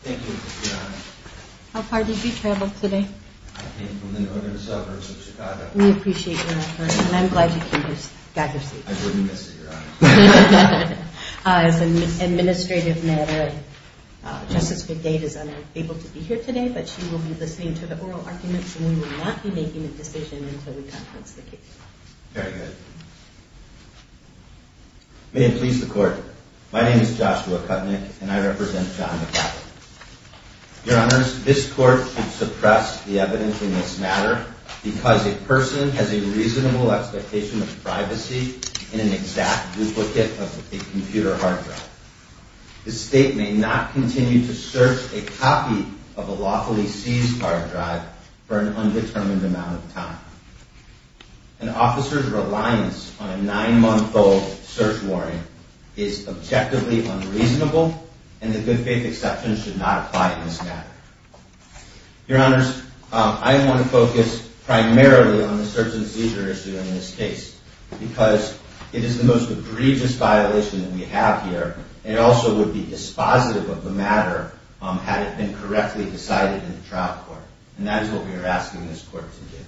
Thank you. How far did you travel today? I came from the northern suburbs of Chicago. We appreciate your effort and I'm glad you came to Staggers. I wouldn't miss it, your honor. As an administrative matter, Justice McCavitt is unable to be here today, but she will be listening to the oral arguments and we will not be making a decision until we conference the case. Very good. May it please the court, my name is Joshua Kutnick and I represent John McCavitt. Your honors, this court should suppress the evidence in this matter because a person has a reasonable expectation of privacy in an exact duplicate of a computer hard drive. The state may not continue to search a copy of a lawfully seized hard drive for an undetermined amount of time. An officer's reliance on a nine-month-old search warning is objectively unreasonable and the good faith exception should not apply in this matter. Your honors, I want to focus primarily on the search and seizure issue in this case because it is the most egregious violation that we have here. It also would be dispositive of the matter had it been correctly decided in the trial court and that is what we are asking this court to do.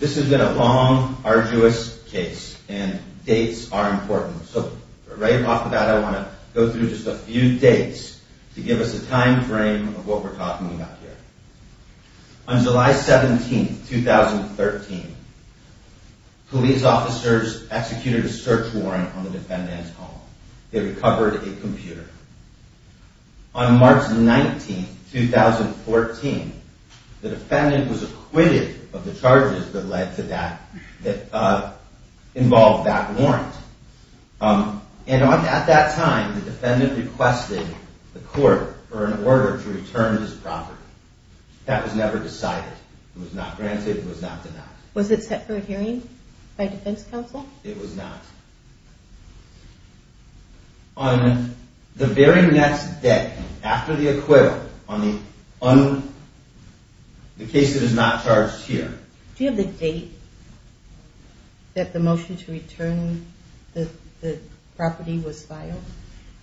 This has been a long, arduous case and dates are important. So right off the bat I want to go through just a few dates to give us a time frame of what we are talking about here. On July 17, 2013, police officers executed a search warrant on the defendant's home. They recovered a computer. On March 19, 2014, the defendant was acquitted of the charges that involved that warrant. At that time, the defendant requested the court for an order to return his property. That was never decided. It was not granted. It was not denied. Was it set for a hearing by defense counsel? It was not. On the very next day after the acquittal on the case that is not charged here. Do you have the date that the motion to return the property was filed?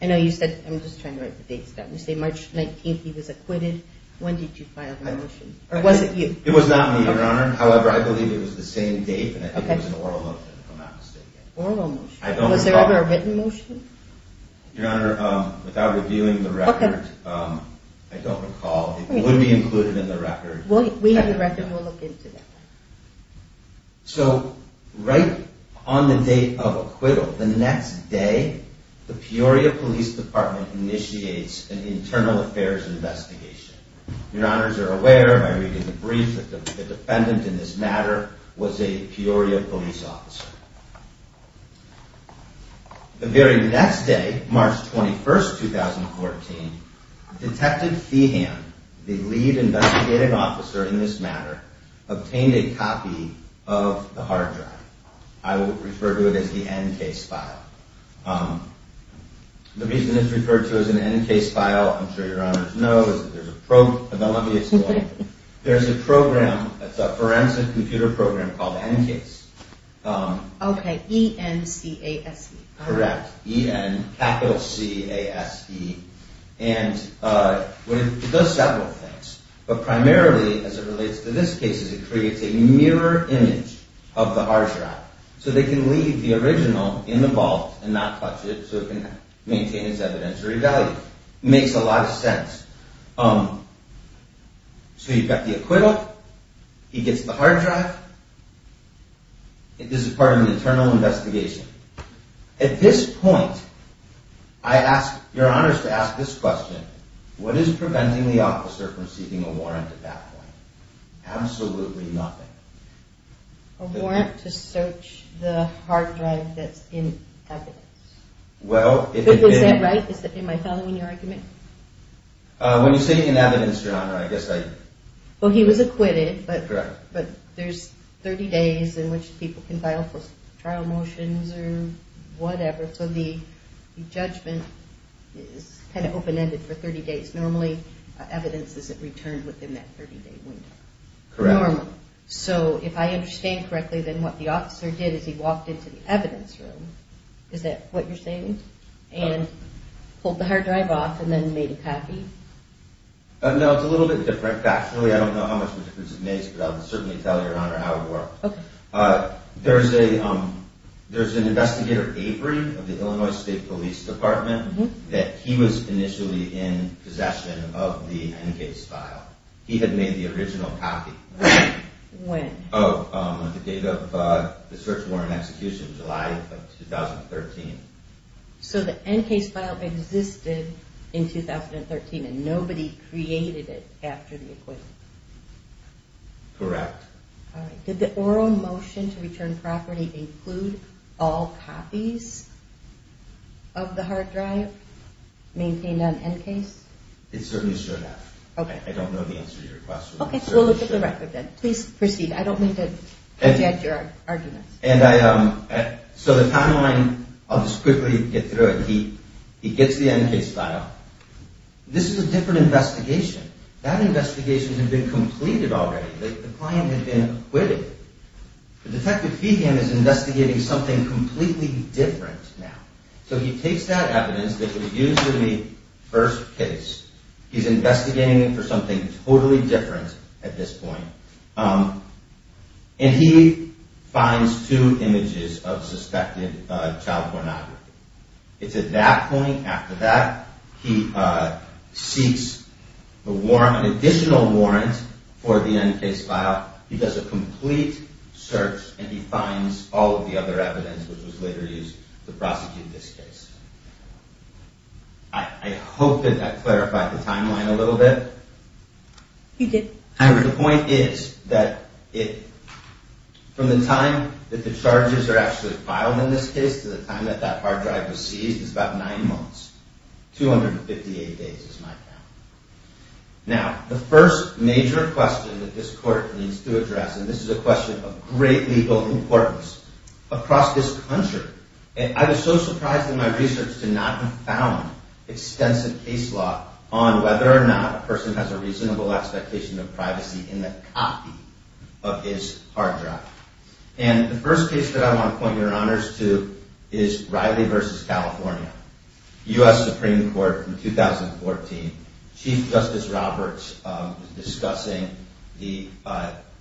I know you said, I'm just trying to write the dates down. You said March 19 he was acquitted. When did you file the motion? It was not me, your honor. However, I believe it was the same date and I think it was an oral motion if I'm not mistaken. Was there ever a written motion? Your honor, without reviewing the record, I don't recall. It would be included in the record. We have the record. We'll look into that. So, right on the date of acquittal, the next day, the Peoria Police Department initiates an internal affairs investigation. Your honors are aware by reading the brief that the defendant in this matter was a Peoria police officer. The very next day, March 21, 2014, Detective Thehan, the lead investigative officer in this matter, obtained a copy of the hard drive. I will refer to it as the N-case file. The reason it's referred to as an N-case file, I'm sure your honors know, is that there's a program that's a forensic computer program called N-case. Okay. E-N-C-A-S-E. Correct. E-N, capital C-A-S-E. And it does several things. But primarily, as it relates to this case, it creates a mirror image of the hard drive so they can leave the original in the vault and not touch it so it can maintain its evidentiary value. Makes a lot of sense. So you've got the acquittal. He gets the hard drive. This is part of an internal investigation. At this point, I ask your honors to ask this question. What is preventing the officer from seeking a warrant at that point? Absolutely nothing. A warrant to search the hard drive that's in evidence. Is that right? Am I following your argument? When you say in evidence, your honor, I guess I... Well, he was acquitted. Correct. But there's 30 days in which people can file trial motions or whatever, so the judgment is kind of open-ended for 30 days. Normally, evidence isn't returned within that 30-day window. Correct. Normally. So if I understand correctly, then what the officer did is he walked into the evidence room. Is that what you're saying? And pulled the hard drive off and then made a copy? No, it's a little bit different. Factually, I don't know how much of a difference it makes, but I'll certainly tell your honor how it worked. Okay. There's an investigator, Avery, of the Illinois State Police Department, that he was initially in possession of the N-case file. He had made the original copy. When? Oh, the date of the search warrant execution, July of 2013. So the N-case file existed in 2013 and nobody created it after the acquittal? Correct. Did the oral motion to return property include all copies of the hard drive maintained on N-case? It certainly showed that. Okay. I don't know the answer to your question. Okay, so we'll look at the record then. Please proceed. I don't mean to interject your arguments. So the timeline, I'll just quickly get through it. He gets the N-case file. This is a different investigation. That investigation had been completed already. The client had been acquitted. The detective feed him is investigating something completely different now. So he takes that evidence that was used in the first case. He's investigating it for something totally different at this point. And he finds two images of suspected child pornography. It's at that point, after that, he seeks an additional warrant for the N-case file. He does a complete search and he finds all of the other evidence which was later used to prosecute this case. I hope that that clarified the timeline a little bit. You did. However, the point is that from the time that the charges are actually filed in this case to the time that that hard drive was seized is about nine months. 258 days is my count. Now, the first major question that this court needs to address, and this is a question of great legal importance across this country, and I was so surprised in my research to not have found extensive case law on whether or not a person has a reasonable expectation of privacy in the copy of his hard drive. And the first case that I want to point your honors to is Riley v. California, U.S. Supreme Court from 2014. Chief Justice Roberts was discussing the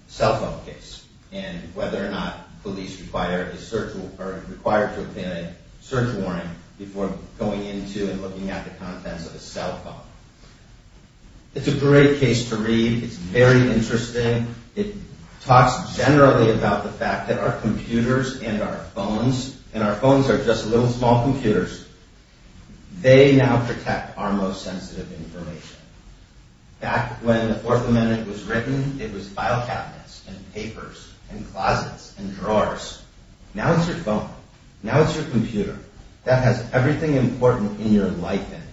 cell phone case and whether or not police require a search warrant before going into and looking at the contents of a cell phone. It's a great case to read. It's very interesting. It talks generally about the fact that our computers and our phones, and our phones are just little small computers, they now protect our most sensitive information. Back when the Fourth Amendment was written, it was file cabinets and papers and closets and drawers. Now it's your phone. Now it's your computer. That has everything important in your life in it.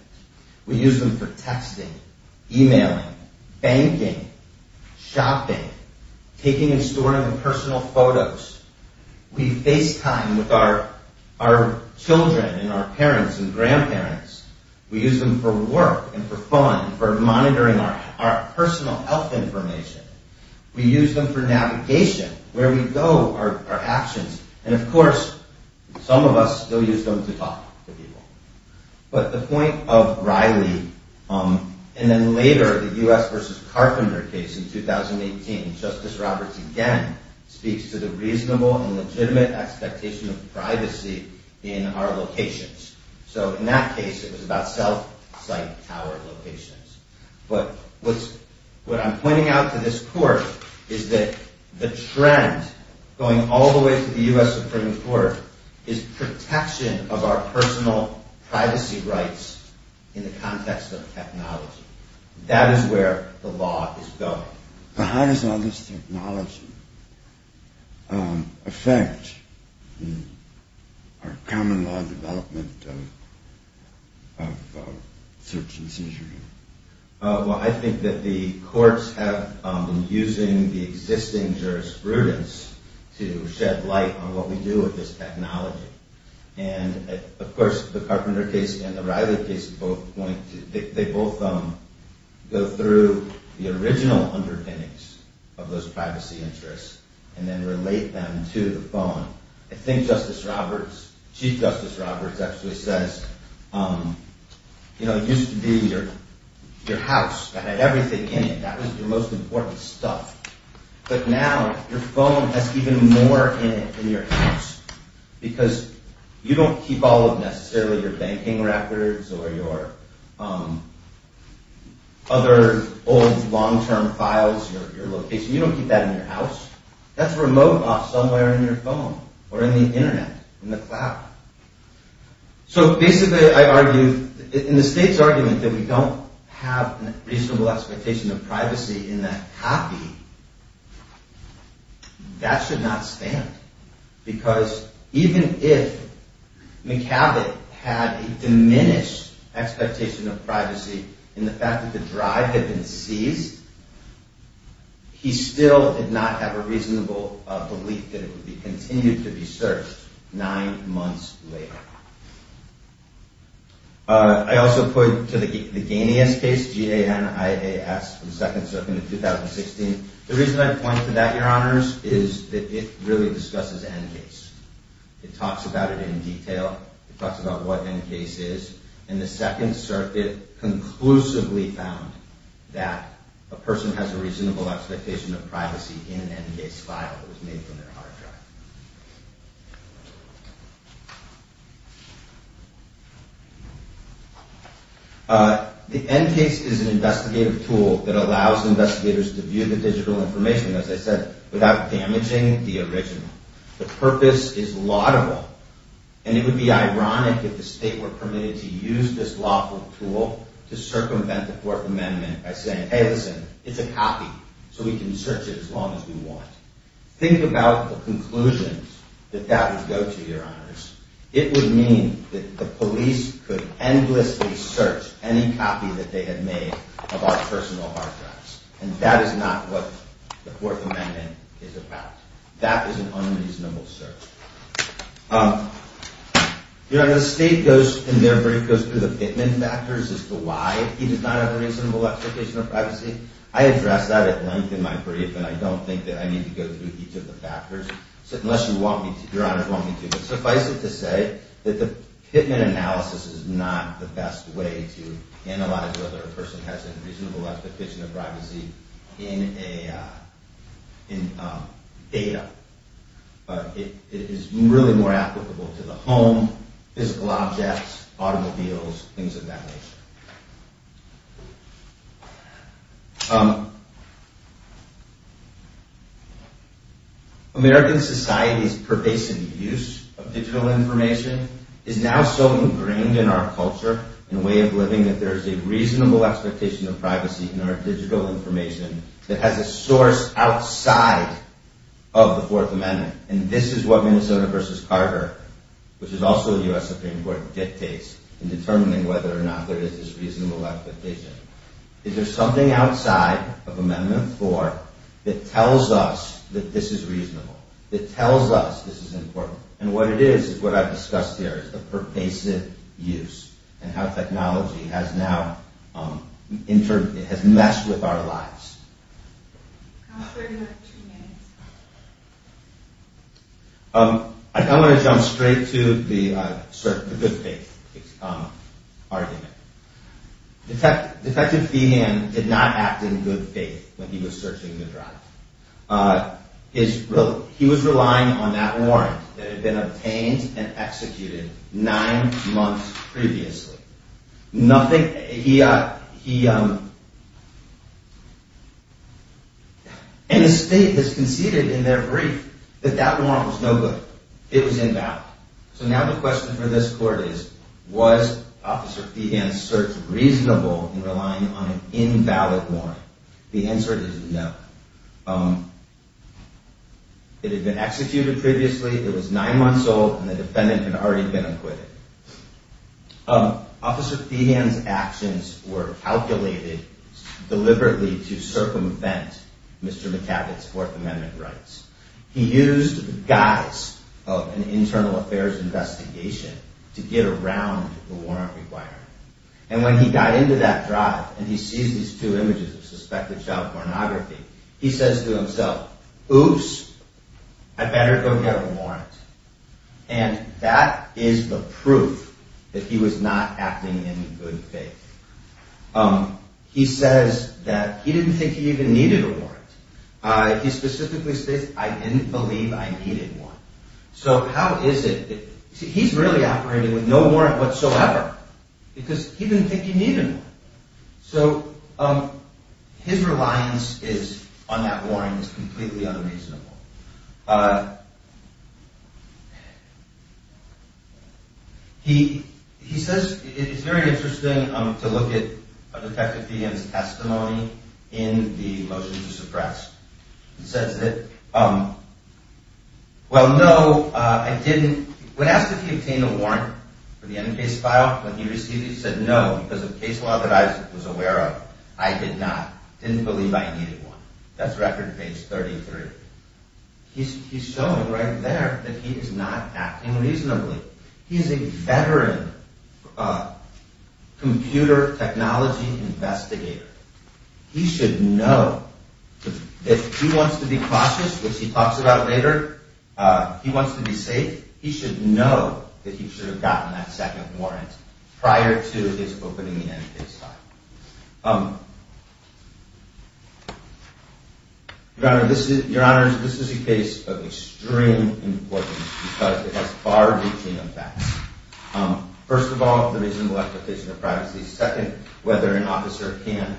We use them for texting, emailing, banking, shopping, taking and storing personal photos. We FaceTime with our children and our parents and grandparents. We use them for work and for fun, for monitoring our personal health information. We use them for navigation, where we go, our actions. And of course, some of us still use them to talk to people. But the point of Riley, and then later the U.S. v. Carpenter case in 2018, Justice Roberts again speaks to the reasonable and legitimate expectation of privacy in our locations. So in that case, it was about self-site tower locations. But what I'm pointing out to this court is that the trend going all the way to the U.S. Supreme Court is protection of our personal privacy rights in the context of technology. That is where the law is going. So how does all this technology affect our common law development of search and seizure? Well, I think that the courts have been using the existing jurisprudence to shed light on what we do with this technology. And of course, the Carpenter case and the Riley case, they both go through the original underpinnings of those privacy interests and then relate them to the phone. I think Chief Justice Roberts actually says, you know, it used to be your house that had everything in it. That was your most important stuff. But now your phone has even more in it than your house. Because you don't keep all of necessarily your banking records or your other old long-term files, your location. You don't keep that in your house. That's remote off somewhere in your phone or in the Internet, in the cloud. So basically, I argue, in the State's argument that we don't have a reasonable expectation of privacy in that copy, that should not stand. Because even if McCabot had a diminished expectation of privacy in the fact that the drive had been seized, he still did not have a reasonable belief that it would continue to be searched nine months later. I also point to the Ganias case, G-A-N-I-A-S, the Second Circuit in 2016. The reason I point to that, Your Honors, is that it really discusses N-Case. It talks about it in detail. It talks about what N-Case is. And the Second Circuit conclusively found that a person has a reasonable expectation of privacy in an N-Case file that was made from their hard drive. The N-Case is an investigative tool that allows investigators to view the digital information, as I said, without damaging the original. The purpose is laudable. And it would be ironic if the State were permitted to use this lawful tool to circumvent the Fourth Amendment by saying, hey, listen, it's a copy, so we can search it as long as we want. Think about the conclusions that that would go to, Your Honors. It would mean that the police could endlessly search any copy that they had made of our personal hard drives. And that is not what the Fourth Amendment is about. That is an unreasonable search. Your Honors, the State, in their brief, goes through the Pittman factors as to why he does not have a reasonable expectation of privacy. I address that at length in my brief, and I don't think that I need to go through each of the factors, unless Your Honors want me to. But suffice it to say that the Pittman analysis is not the best way to analyze whether a person has a reasonable expectation of privacy in data. It is really more applicable to the home, physical objects, automobiles, things of that nature. American society's pervasive use of digital information is now so ingrained in our culture and way of living that there's a reasonable expectation of privacy in our digital information that has a source outside of the Fourth Amendment. And this is what Minnesota v. Carter, which is also the U.S. Supreme Court, dictates in determining whether or not there is this reasonable expectation. Is there something outside of Amendment 4 that tells us that this is reasonable, that tells us this is important? And what it is, is what I've discussed here, is the pervasive use and how technology has now messed with our lives. I want to jump straight to the good faith argument. Detective Feehan did not act in good faith when he was searching the drive. He was relying on that warrant that had been obtained and executed nine months previously. And the state has conceded in their brief that that warrant was no good. It was invalid. So now the question for this court is, was Officer Feehan's search reasonable in relying on an invalid warrant? The answer is no. It had been executed previously, it was nine months old, and the defendant had already been acquitted. Officer Feehan's actions were calculated deliberately to circumvent Mr. McCabe's Fourth Amendment rights. He used the guise of an internal affairs investigation to get around the warrant requirement. And when he got into that drive and he sees these two images of suspected child pornography, he says to himself, Oops, I better go get a warrant. And that is the proof that he was not acting in good faith. He says that he didn't think he even needed a warrant. He specifically states, I didn't believe I needed one. So how is it, he's really operating with no warrant whatsoever. Because he didn't think he needed one. So his reliance on that warrant is completely unreasonable. He says, it's very interesting to look at Detective Feehan's testimony in the motions suppressed. He says that, well no, I didn't. When asked if he obtained a warrant for the end case file, when he received it, he said no, because of case law that I was aware of, I did not. Didn't believe I needed one. That's record page 33. He's showing right there that he is not acting reasonably. He's a veteran computer technology investigator. He should know, if he wants to be cautious, which he talks about later, he wants to be safe. He should know that he should have gotten that second warrant prior to his opening the end case file. Your Honor, this is a case of extreme importance because it has far reaching effects. First of all, the reasonable exploitation of privacy. Second, whether an officer can,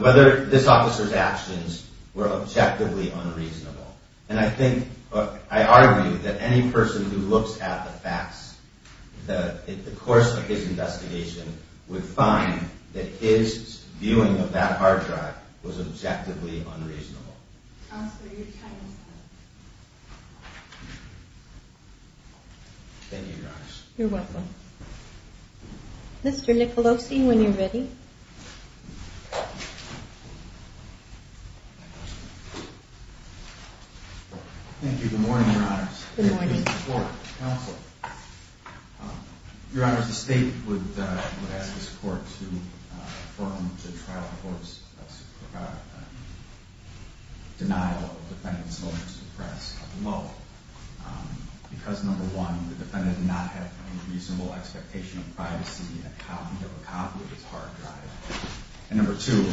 whether this officer's actions were objectively unreasonable. And I think, I argue that any person who looks at the facts, the course of his investigation, would find that his viewing of that hard drive was objectively unreasonable. Counselor, your time is up. Thank you, Your Honor. You're welcome. Mr. Nicolosi, when you're ready. Thank you. Good morning, Your Honor. Good morning. Counselor, Your Honor, the State would ask this Court to affirm to trial the court's denial of defendant's willingness to press, because, number one, the defendant did not have a reasonable expectation of privacy, and he didn't have a copy of his hard drive. And number two,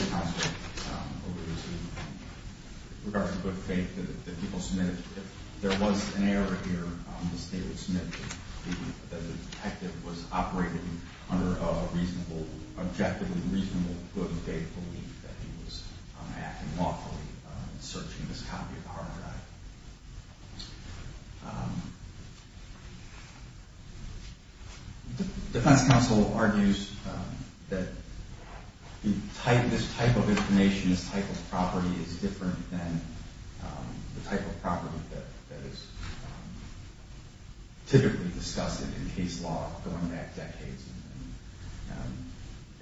regardless of good faith that the people submitted, if there was an error here, the State would submit that the detective was operating under a reasonable, good faith belief that he was acting lawfully in searching this copy of the hard drive. The defense counsel argues that this type of information, this type of property, is different than the type of property that is typically discussed in case law going back decades.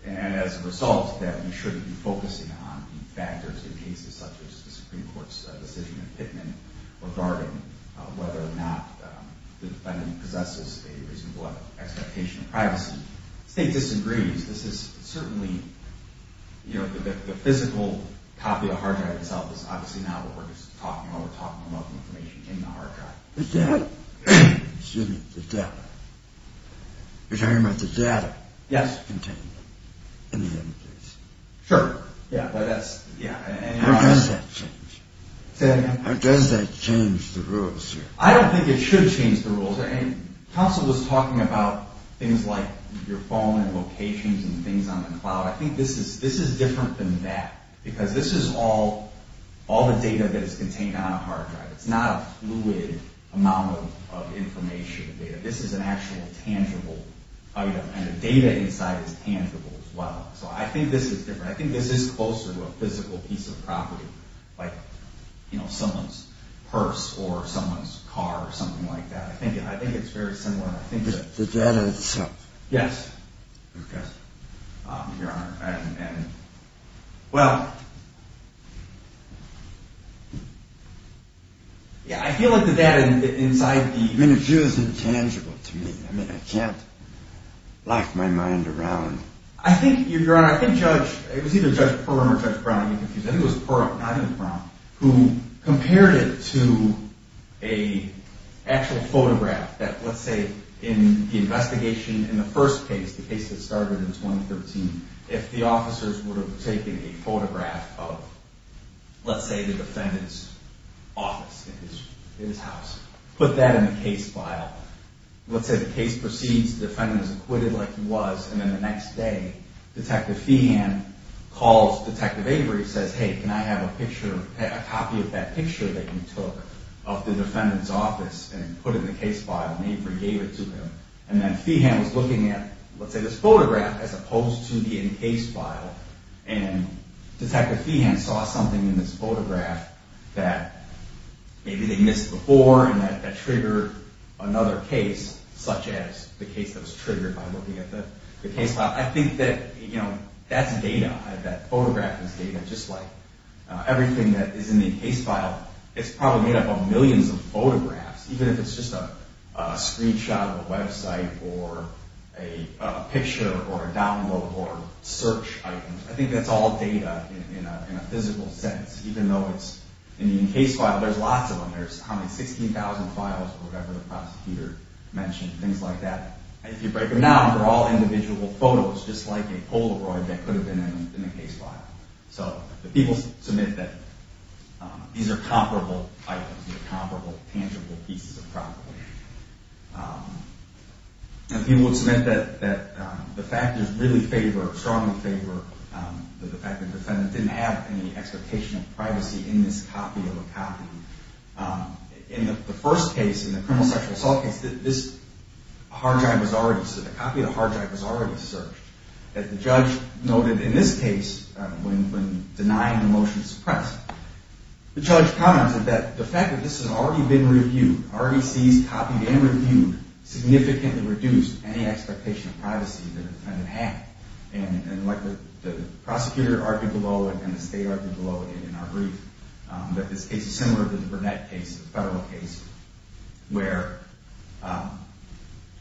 And as a result, that we shouldn't be focusing on factors in cases such as the Supreme Court's decision in Pitman regarding whether or not the defendant possesses a reasonable expectation of privacy. The State disagrees. This is certainly, you know, the physical copy of the hard drive itself is obviously not what we're just talking about. We're talking about the information in the hard drive. The data. You're talking about the data contained in the hard drive. Sure, yeah. How does that change? Say that again. How does that change the rules here? I don't think it should change the rules. Counsel was talking about things like your phone and locations and things on the cloud. I think this is different than that, because this is all the data that is contained on a hard drive. It's not a fluid amount of information. This is an actual tangible item, and the data inside is tangible as well. So I think this is different. I think this is closer to a physical piece of property, like, you know, someone's purse or someone's car or something like that. I think it's very similar. The data itself. Yes, Your Honor. Well, yeah, I feel like the data inside the... I mean, the issue is intangible to me. I mean, I can't lock my mind around... I think, Your Honor, I think Judge... it was either Judge Pearl or Judge Brown. I'm getting confused. I think it was Pearl, not even Brown, who compared it to an actual photograph that, let's say, in the investigation in the first case, the case that started in 2013, if the officers would have taken a photograph of, let's say, the defendant's office in his house, put that in the case file, let's say the case proceeds, the defendant is acquitted like he was, and then the next day, Detective Feehan calls Detective Avery and says, hey, can I have a picture, a copy of that picture that you took of the defendant's office and put in the case file, and Avery gave it to him. And then Feehan was looking at, let's say, this photograph as opposed to the encased file, and Detective Feehan saw something in this photograph that maybe they missed before and that triggered another case, such as the case that was triggered by looking at the case file. I think that, you know, that's data. That photograph is data, just like everything that is in the encased file. It's probably made up of millions of photographs, even if it's just a screenshot of a website or a picture or a download or search item. I think that's all data in a physical sense. Even though it's in the encased file, there's lots of them. There's how many, 16,000 files or whatever the prosecutor mentioned, things like that. If you break them down, they're all individual photos, just like a Polaroid that could have been in the encased file. So the people submit that these are comparable items, comparable tangible pieces of property. And people would submit that the factors really favor, strongly favor, the fact that the defendant didn't have any expectation of privacy in this copy of a copy. In the first case, in the criminal sexual assault case, this hard drive was already, the copy of the hard drive was already searched. As the judge noted in this case, when denying the motion to suppress, the judge commented that the fact that this had already been reviewed, already seized, copied, and reviewed, significantly reduced any expectation of privacy that a defendant had. And like the prosecutor argued below it and the state argued below it in our brief, that this case is similar to the Burnett case, the federal case, where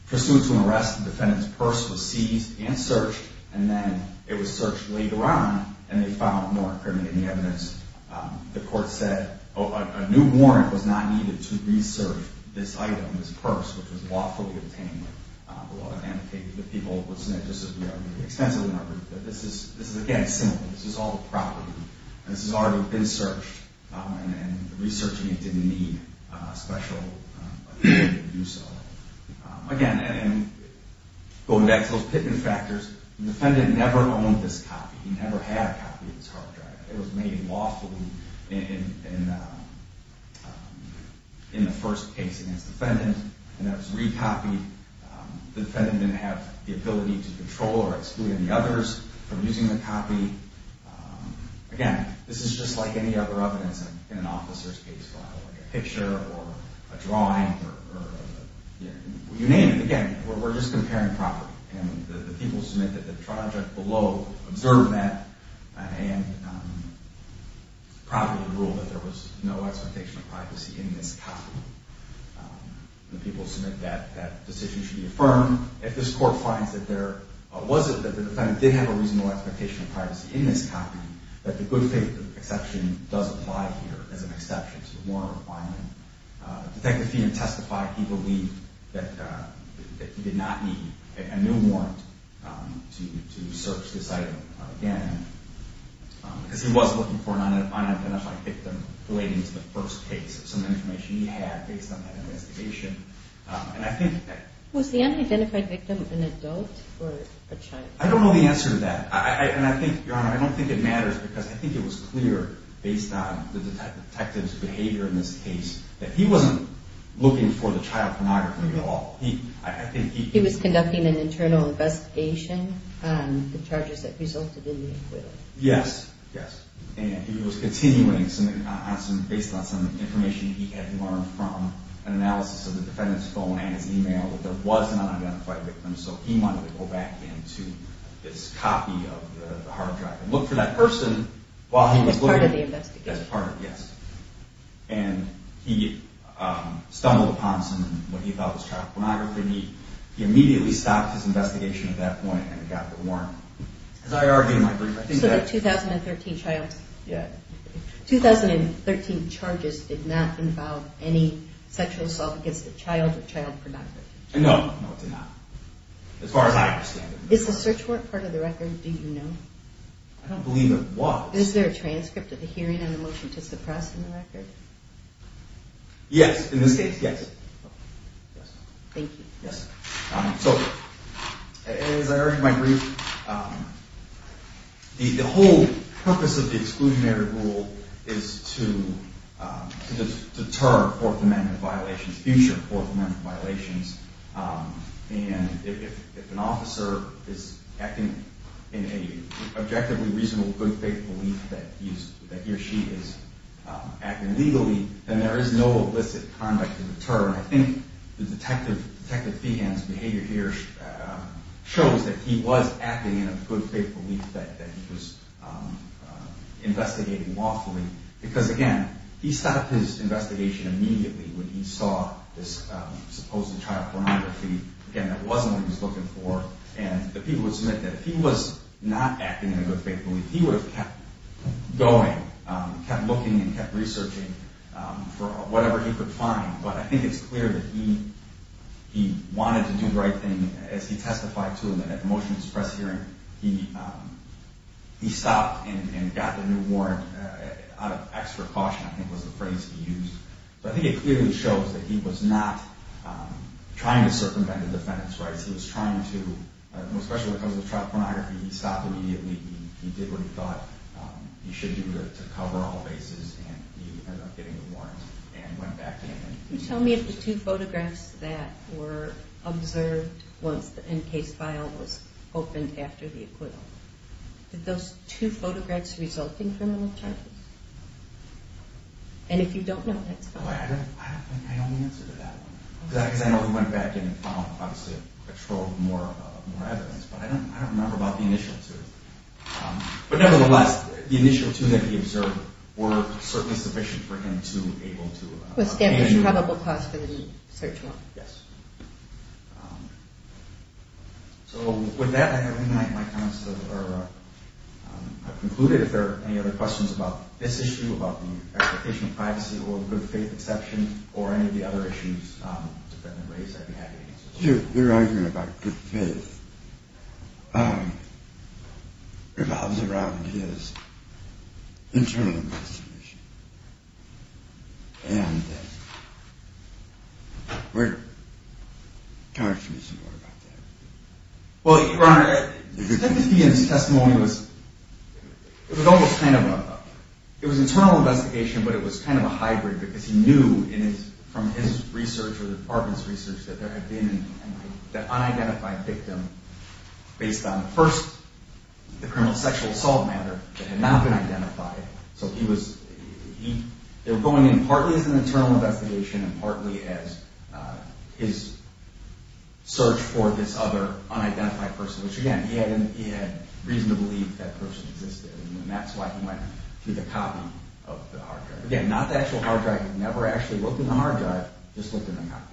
pursuant to an arrest, the defendant's purse was seized and searched, and then it was searched later on, and they found more incriminating evidence. The court said, oh, a new warrant was not needed to resurf this item, this purse, which was lawfully obtained with the law. And the people would submit, just as we argued, extensively in our brief, that this is, again, similar. This is all the property, and this has already been searched, and the researching it didn't need a special agreement to do so. Again, and going back to those Pitman factors, the defendant never owned this copy. He never had a copy of this hard drive. It was made lawfully in the first case against the defendant, and that was re-copied. The defendant didn't have the ability to control or exclude any others from using the copy. Again, this is just like any other evidence in an officer's case file, like a picture or a drawing or you name it. Again, we're just comparing property. And the people submit that the trial judge below observed that and probably ruled that there was no expectation of privacy in this copy. The people submit that that decision should be affirmed. If this court finds that there wasn't, or that the defendant did have a reasonable expectation of privacy in this copy, that the good faith exception does apply here as an exception to the warrant requirement. Detective Feenan testified he believed that he did not need a new warrant to search this item again because he was looking for an unidentified victim relating to the first case, some information he had based on that investigation. Was the unidentified victim an adult or a child? I don't know the answer to that. And I think, Your Honor, I don't think it matters because I think it was clear based on the detective's behavior in this case that he wasn't looking for the child pornography at all. He was conducting an internal investigation on the charges that resulted in the acquittal. Yes, yes. And he was continuing based on some information he had learned from an analysis of the defendant's phone and his email that there was an unidentified victim, so he wanted to go back into this copy of the hard drive and look for that person while he was looking. As part of the investigation. As part of, yes. And he stumbled upon some of what he thought was child pornography. He immediately stopped his investigation at that point and got the warrant. As I argued in my brief, I think that... 2013 charges did not involve any sexual assault against a child or child pornography. No, no, it did not. As far as I understand it. Is the search warrant part of the record? Do you know? I don't believe it was. Is there a transcript of the hearing and a motion to suppress the record? Yes, in this case, yes. Thank you. Yes. So, as I argued in my brief, the whole purpose of the exclusionary rule is to deter Fourth Amendment violations, future Fourth Amendment violations. And if an officer is acting in an objectively reasonable good faith belief that he or she is acting legally, and I think Detective Feehan's behavior here shows that he was acting in a good faith belief that he was investigating lawfully. Because, again, he stopped his investigation immediately when he saw this supposed child pornography. Again, that wasn't what he was looking for. And the people would submit that if he was not acting in a good faith belief, he would have kept going, kept looking and kept researching for whatever he could find. But I think it's clear that he wanted to do the right thing. As he testified to him in that motion to suppress hearing, he stopped and got the new warrant out of extra caution, I think was the phrase he used. But I think it clearly shows that he was not trying to circumvent the defendant's rights. He was trying to, especially because of the child pornography, he stopped immediately. He did what he thought he should do to cover all bases. And he ended up getting the warrant and went back in. Can you tell me if the two photographs that were observed once the NCASE file was opened after the acquittal, did those two photographs result in criminal charges? And if you don't know, that's fine. I don't think I know the answer to that one. Because I know he went back in and obviously patrolled more evidence. But I don't remember about the initial two. But nevertheless, the initial two that he observed were certainly sufficient for him to be able to- Establish probable cause for the search warrant. Yes. So with that, I have concluded. If there are any other questions about this issue, about the application of privacy, or the good faith exception, or any of the other issues the defendant raised, I'd be happy to answer. Your argument about good faith revolves around his internal investigation. And talk to me some more about that. Well, Your Honor, Timothy and his testimony was- It was almost kind of a- It was an internal investigation, but it was kind of a hybrid, because he knew from his research or the department's research that there had been an unidentified victim based on first the criminal sexual assault matter that had not been identified. So he was- They were going in partly as an internal investigation, and partly as his search for this other unidentified person. Which again, he had reason to believe that person existed. And that's why he went through the copy of the hard drive. Again, not the actual hard drive. He never actually looked in the hard drive. Just looked in the copy.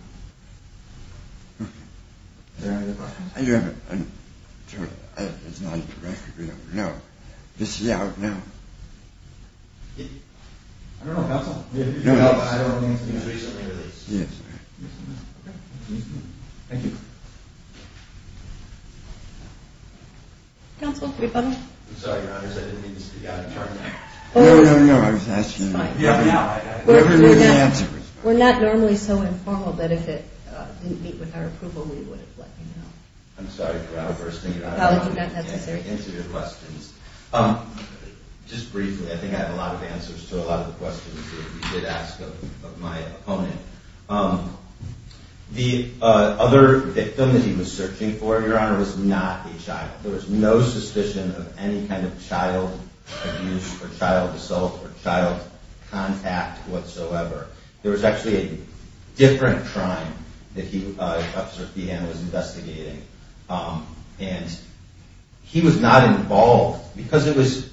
Is there any other questions? I do have a- It's not a direct- No. This is out now. I don't know, Counsel. I don't know anything about it. It was recently released. Yes. Okay. Thank you. Counsel, could we have a moment? I'm sorry, Your Honor. I didn't mean to speak out of turn. No, no, no. It's fine. We're not normally so informal that if it didn't meet with our approval, we would have let you know. I'm sorry for outbursting. Apology not necessary. Into your questions. Just briefly, I think I have a lot of answers to a lot of the questions that you did ask of my opponent. The other victim that he was searching for, Your Honor, was not a child. There was no suspicion of any kind of child abuse or child assault or child contact whatsoever. There was actually a different crime that Officer Peehan was investigating, and he was not involved because it was-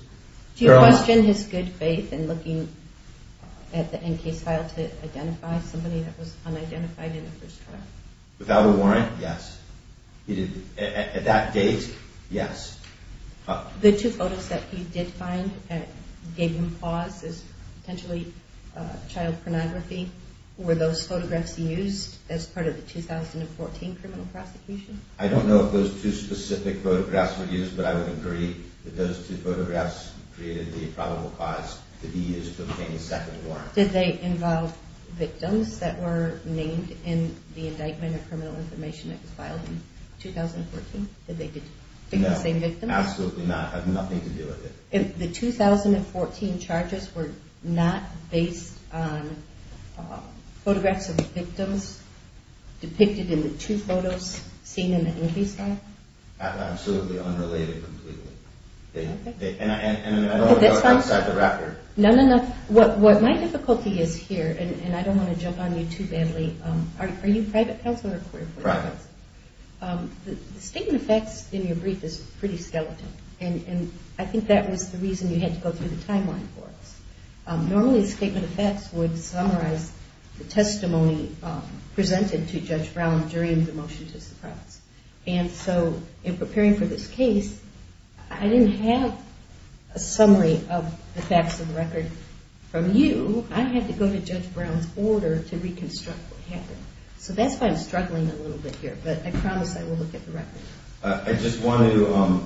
Do you question his good faith in looking at the in-case file to identify somebody that was unidentified in the first trial? Without a warrant? Yes. At that date? Yes. The two photos that you did find that gave him pause as potentially child pornography, were those photographs used as part of the 2014 criminal prosecution? I don't know if those two specific photographs were used, but I would agree that those two photographs created the probable cause to be used to obtain a second warrant. Did they involve victims that were named in the indictment of criminal information that was filed in 2014? No. Absolutely not. It had nothing to do with it. The 2014 charges were not based on photographs of the victims depicted in the two photos seen in the in-case file? Absolutely unrelated completely. Okay. And I don't want to go outside the record. No, no, no. What my difficulty is here, and I don't want to jump on you too badly, are you private counsel or queer? Private. The statement of facts in your brief is pretty skeletal, and I think that was the reason you had to go through the timeline for us. Normally a statement of facts would summarize the testimony presented to Judge Brown during the motion to suppress. And so in preparing for this case, I didn't have a summary of the facts of the record from you. So that's why I'm struggling a little bit here, but I promise I will look at the record. I just wanted to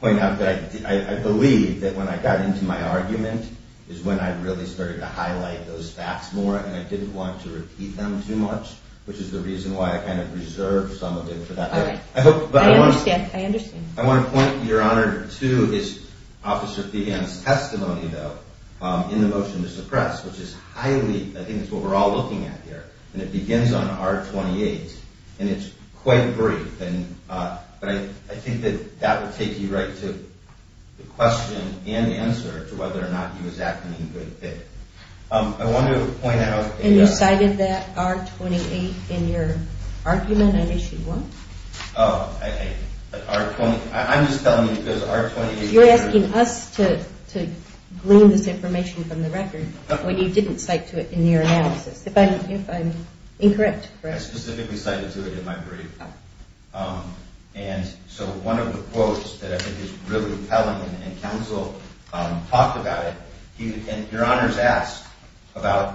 point out that I believe that when I got into my argument is when I really started to highlight those facts more, and I didn't want to repeat them too much, which is the reason why I kind of reserved some of it for that. All right. I understand. I want to point, Your Honor, to Officer Feehan's testimony, though, in the motion to suppress, which is highly, I think it's what we're all looking at here, and it begins on R-28, and it's quite brief. But I think that that will take you right to the question and the answer to whether or not he was acting in good faith. I wanted to point out... And you cited that R-28 in your argument on Issue 1? Oh, R-28. I'm just telling you because R-28... You're asking us to glean this information from the record when you didn't cite to it in your analysis. If I'm incorrect, correct. I specifically cited to it in my brief. And so one of the quotes that I think is really telling, and counsel talked about it, and Your Honor's asked about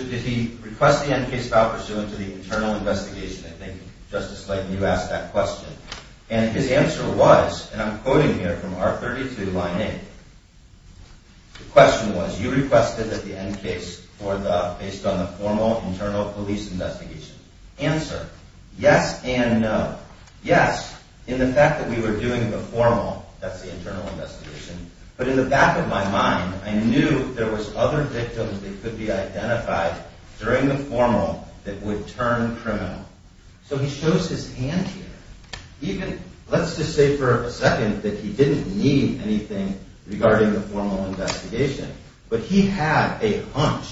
did he request the end case file pursuant to the internal investigation. I think, Justice Slayton, you asked that question. And his answer was, and I'm quoting here from R-32, line 8. The question was, you requested that the end case based on the formal internal police investigation. Answer, yes and no. Yes, in the fact that we were doing the formal, that's the internal investigation, but in the back of my mind, I knew there was other victims that could be identified during the formal that would turn criminal. So he shows his hand here. Even, let's just say for a second that he didn't need anything regarding the formal investigation, but he had a hunch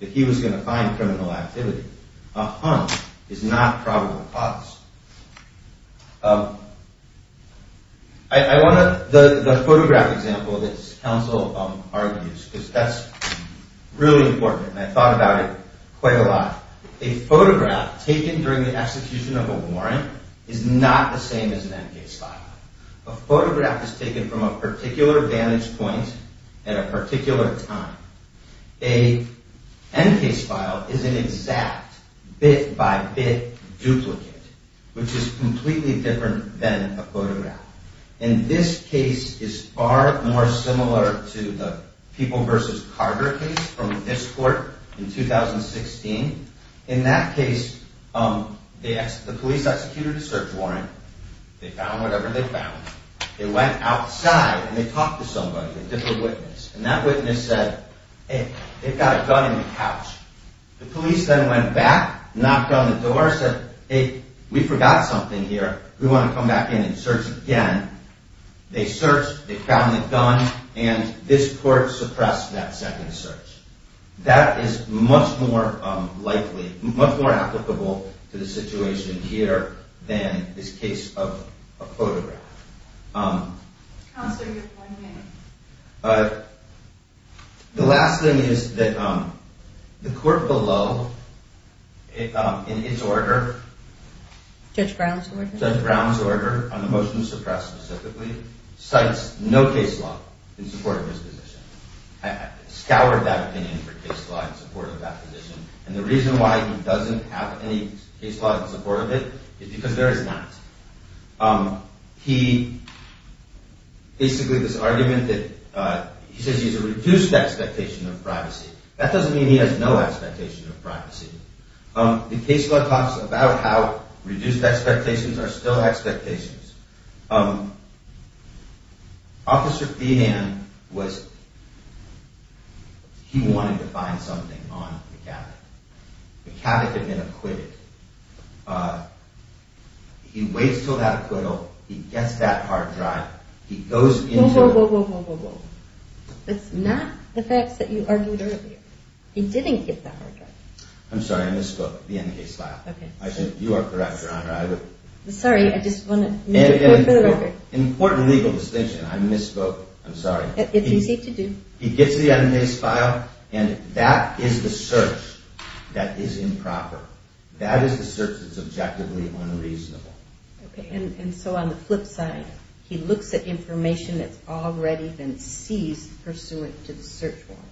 that he was going to find criminal activity. A hunch is not probable cause. I want to, the photograph example that counsel argues, because that's really important, and I thought about it quite a lot. A photograph taken during the execution of a warrant is not the same as an end case file. A photograph is taken from a particular vantage point at a particular time. An end case file is an exact bit-by-bit duplicate, which is completely different than a photograph. And this case is far more similar to the People v. Carter case from this court in 2016. In that case, the police executed a search warrant. They found whatever they found. They went outside and they talked to somebody, a different witness, and that witness said, hey, they've got a gun in the couch. The police then went back, knocked on the door, said, hey, we forgot something here. We want to come back in and search again. They searched, they found the gun, and this court suppressed that second search. That is much more likely, much more applicable to the situation here than this case of a photograph. The last thing is that the court below, in its order, Judge Brown's order on the motion to suppress specifically, cites no case law in support of his position. It scoured that opinion for case law in support of that position. And the reason why he doesn't have any case law in support of it is because there is not. He, basically this argument that, he says he has a reduced expectation of privacy. That doesn't mean he has no expectation of privacy. The case law talks about how reduced expectations are still expectations. Officer Feehan was, he wanted to find something on McCavick. McCavick had been acquitted. He waits until that acquittal, he gets that hard drive, he goes into... Whoa, whoa, whoa, whoa, whoa, whoa. It's not the facts that you argued earlier. He didn't get that hard drive. I'm sorry, I misspoke. The end of the case file. Okay. You are correct, Your Honor. I'm sorry, I just want to make a point for the record. An important legal distinction, I misspoke, I'm sorry. It's easy to do. He gets the end of the case file, and that is the search that is improper. That is the search that's objectively unreasonable. Okay, and so on the flip side, he looks at information that's already been seized pursuant to the search warrant.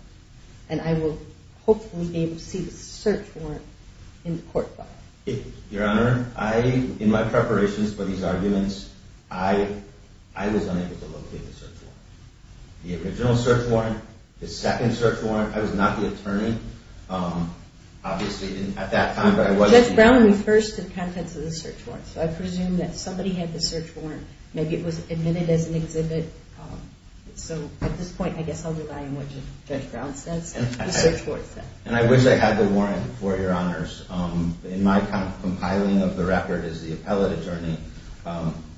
And I will hopefully be able to see the search warrant in the court file. Your Honor, in my preparations for these arguments, I was unable to locate the search warrant. The original search warrant, the second search warrant, I was not the attorney, obviously, at that time. Judge Brown refers to the contents of the search warrant, so I presume that somebody had the search warrant, maybe it was admitted as an exhibit. So at this point, I guess I'll rely on what Judge Brown says, the search warrant says. And I wish I had the warrant for it, Your Honors. In my compiling of the record as the appellate attorney,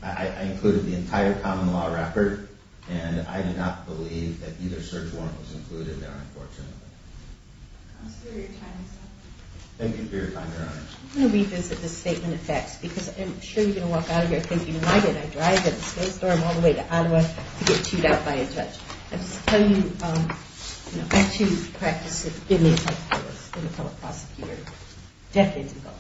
I included the entire common law record, and I do not believe that either search warrant was included there, unfortunately. Thank you for your time, Your Honor. I'm going to revisit this statement of facts, because I'm sure you're going to walk out of here thinking, why did I drive in a snowstorm all the way to Ottawa to get chewed out by a judge? Let's tell you, you know, back to the practice of giving the appellate appeals to the appellate prosecutor decades ago.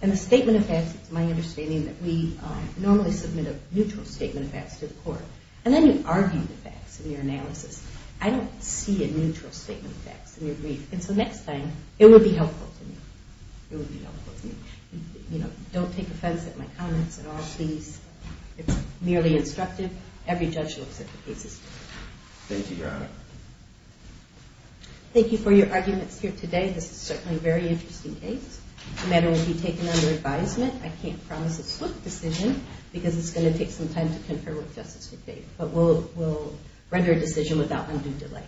And the statement of facts, it's my understanding, that we normally submit a neutral statement of facts to the court. And then you argue the facts in your analysis. I don't see a neutral statement of facts in your brief. And so next time, it would be helpful to me. It would be helpful to me. You know, don't take offense at my comments at all, please. It's merely instructive. Every judge looks at the cases differently. Thank you, Your Honor. Thank you for your arguments here today. This is certainly a very interesting case. The matter will be taken under advisement. I can't promise a swift decision, because it's going to take some time to confirm what justice would be. But we'll render a decision without undue delay.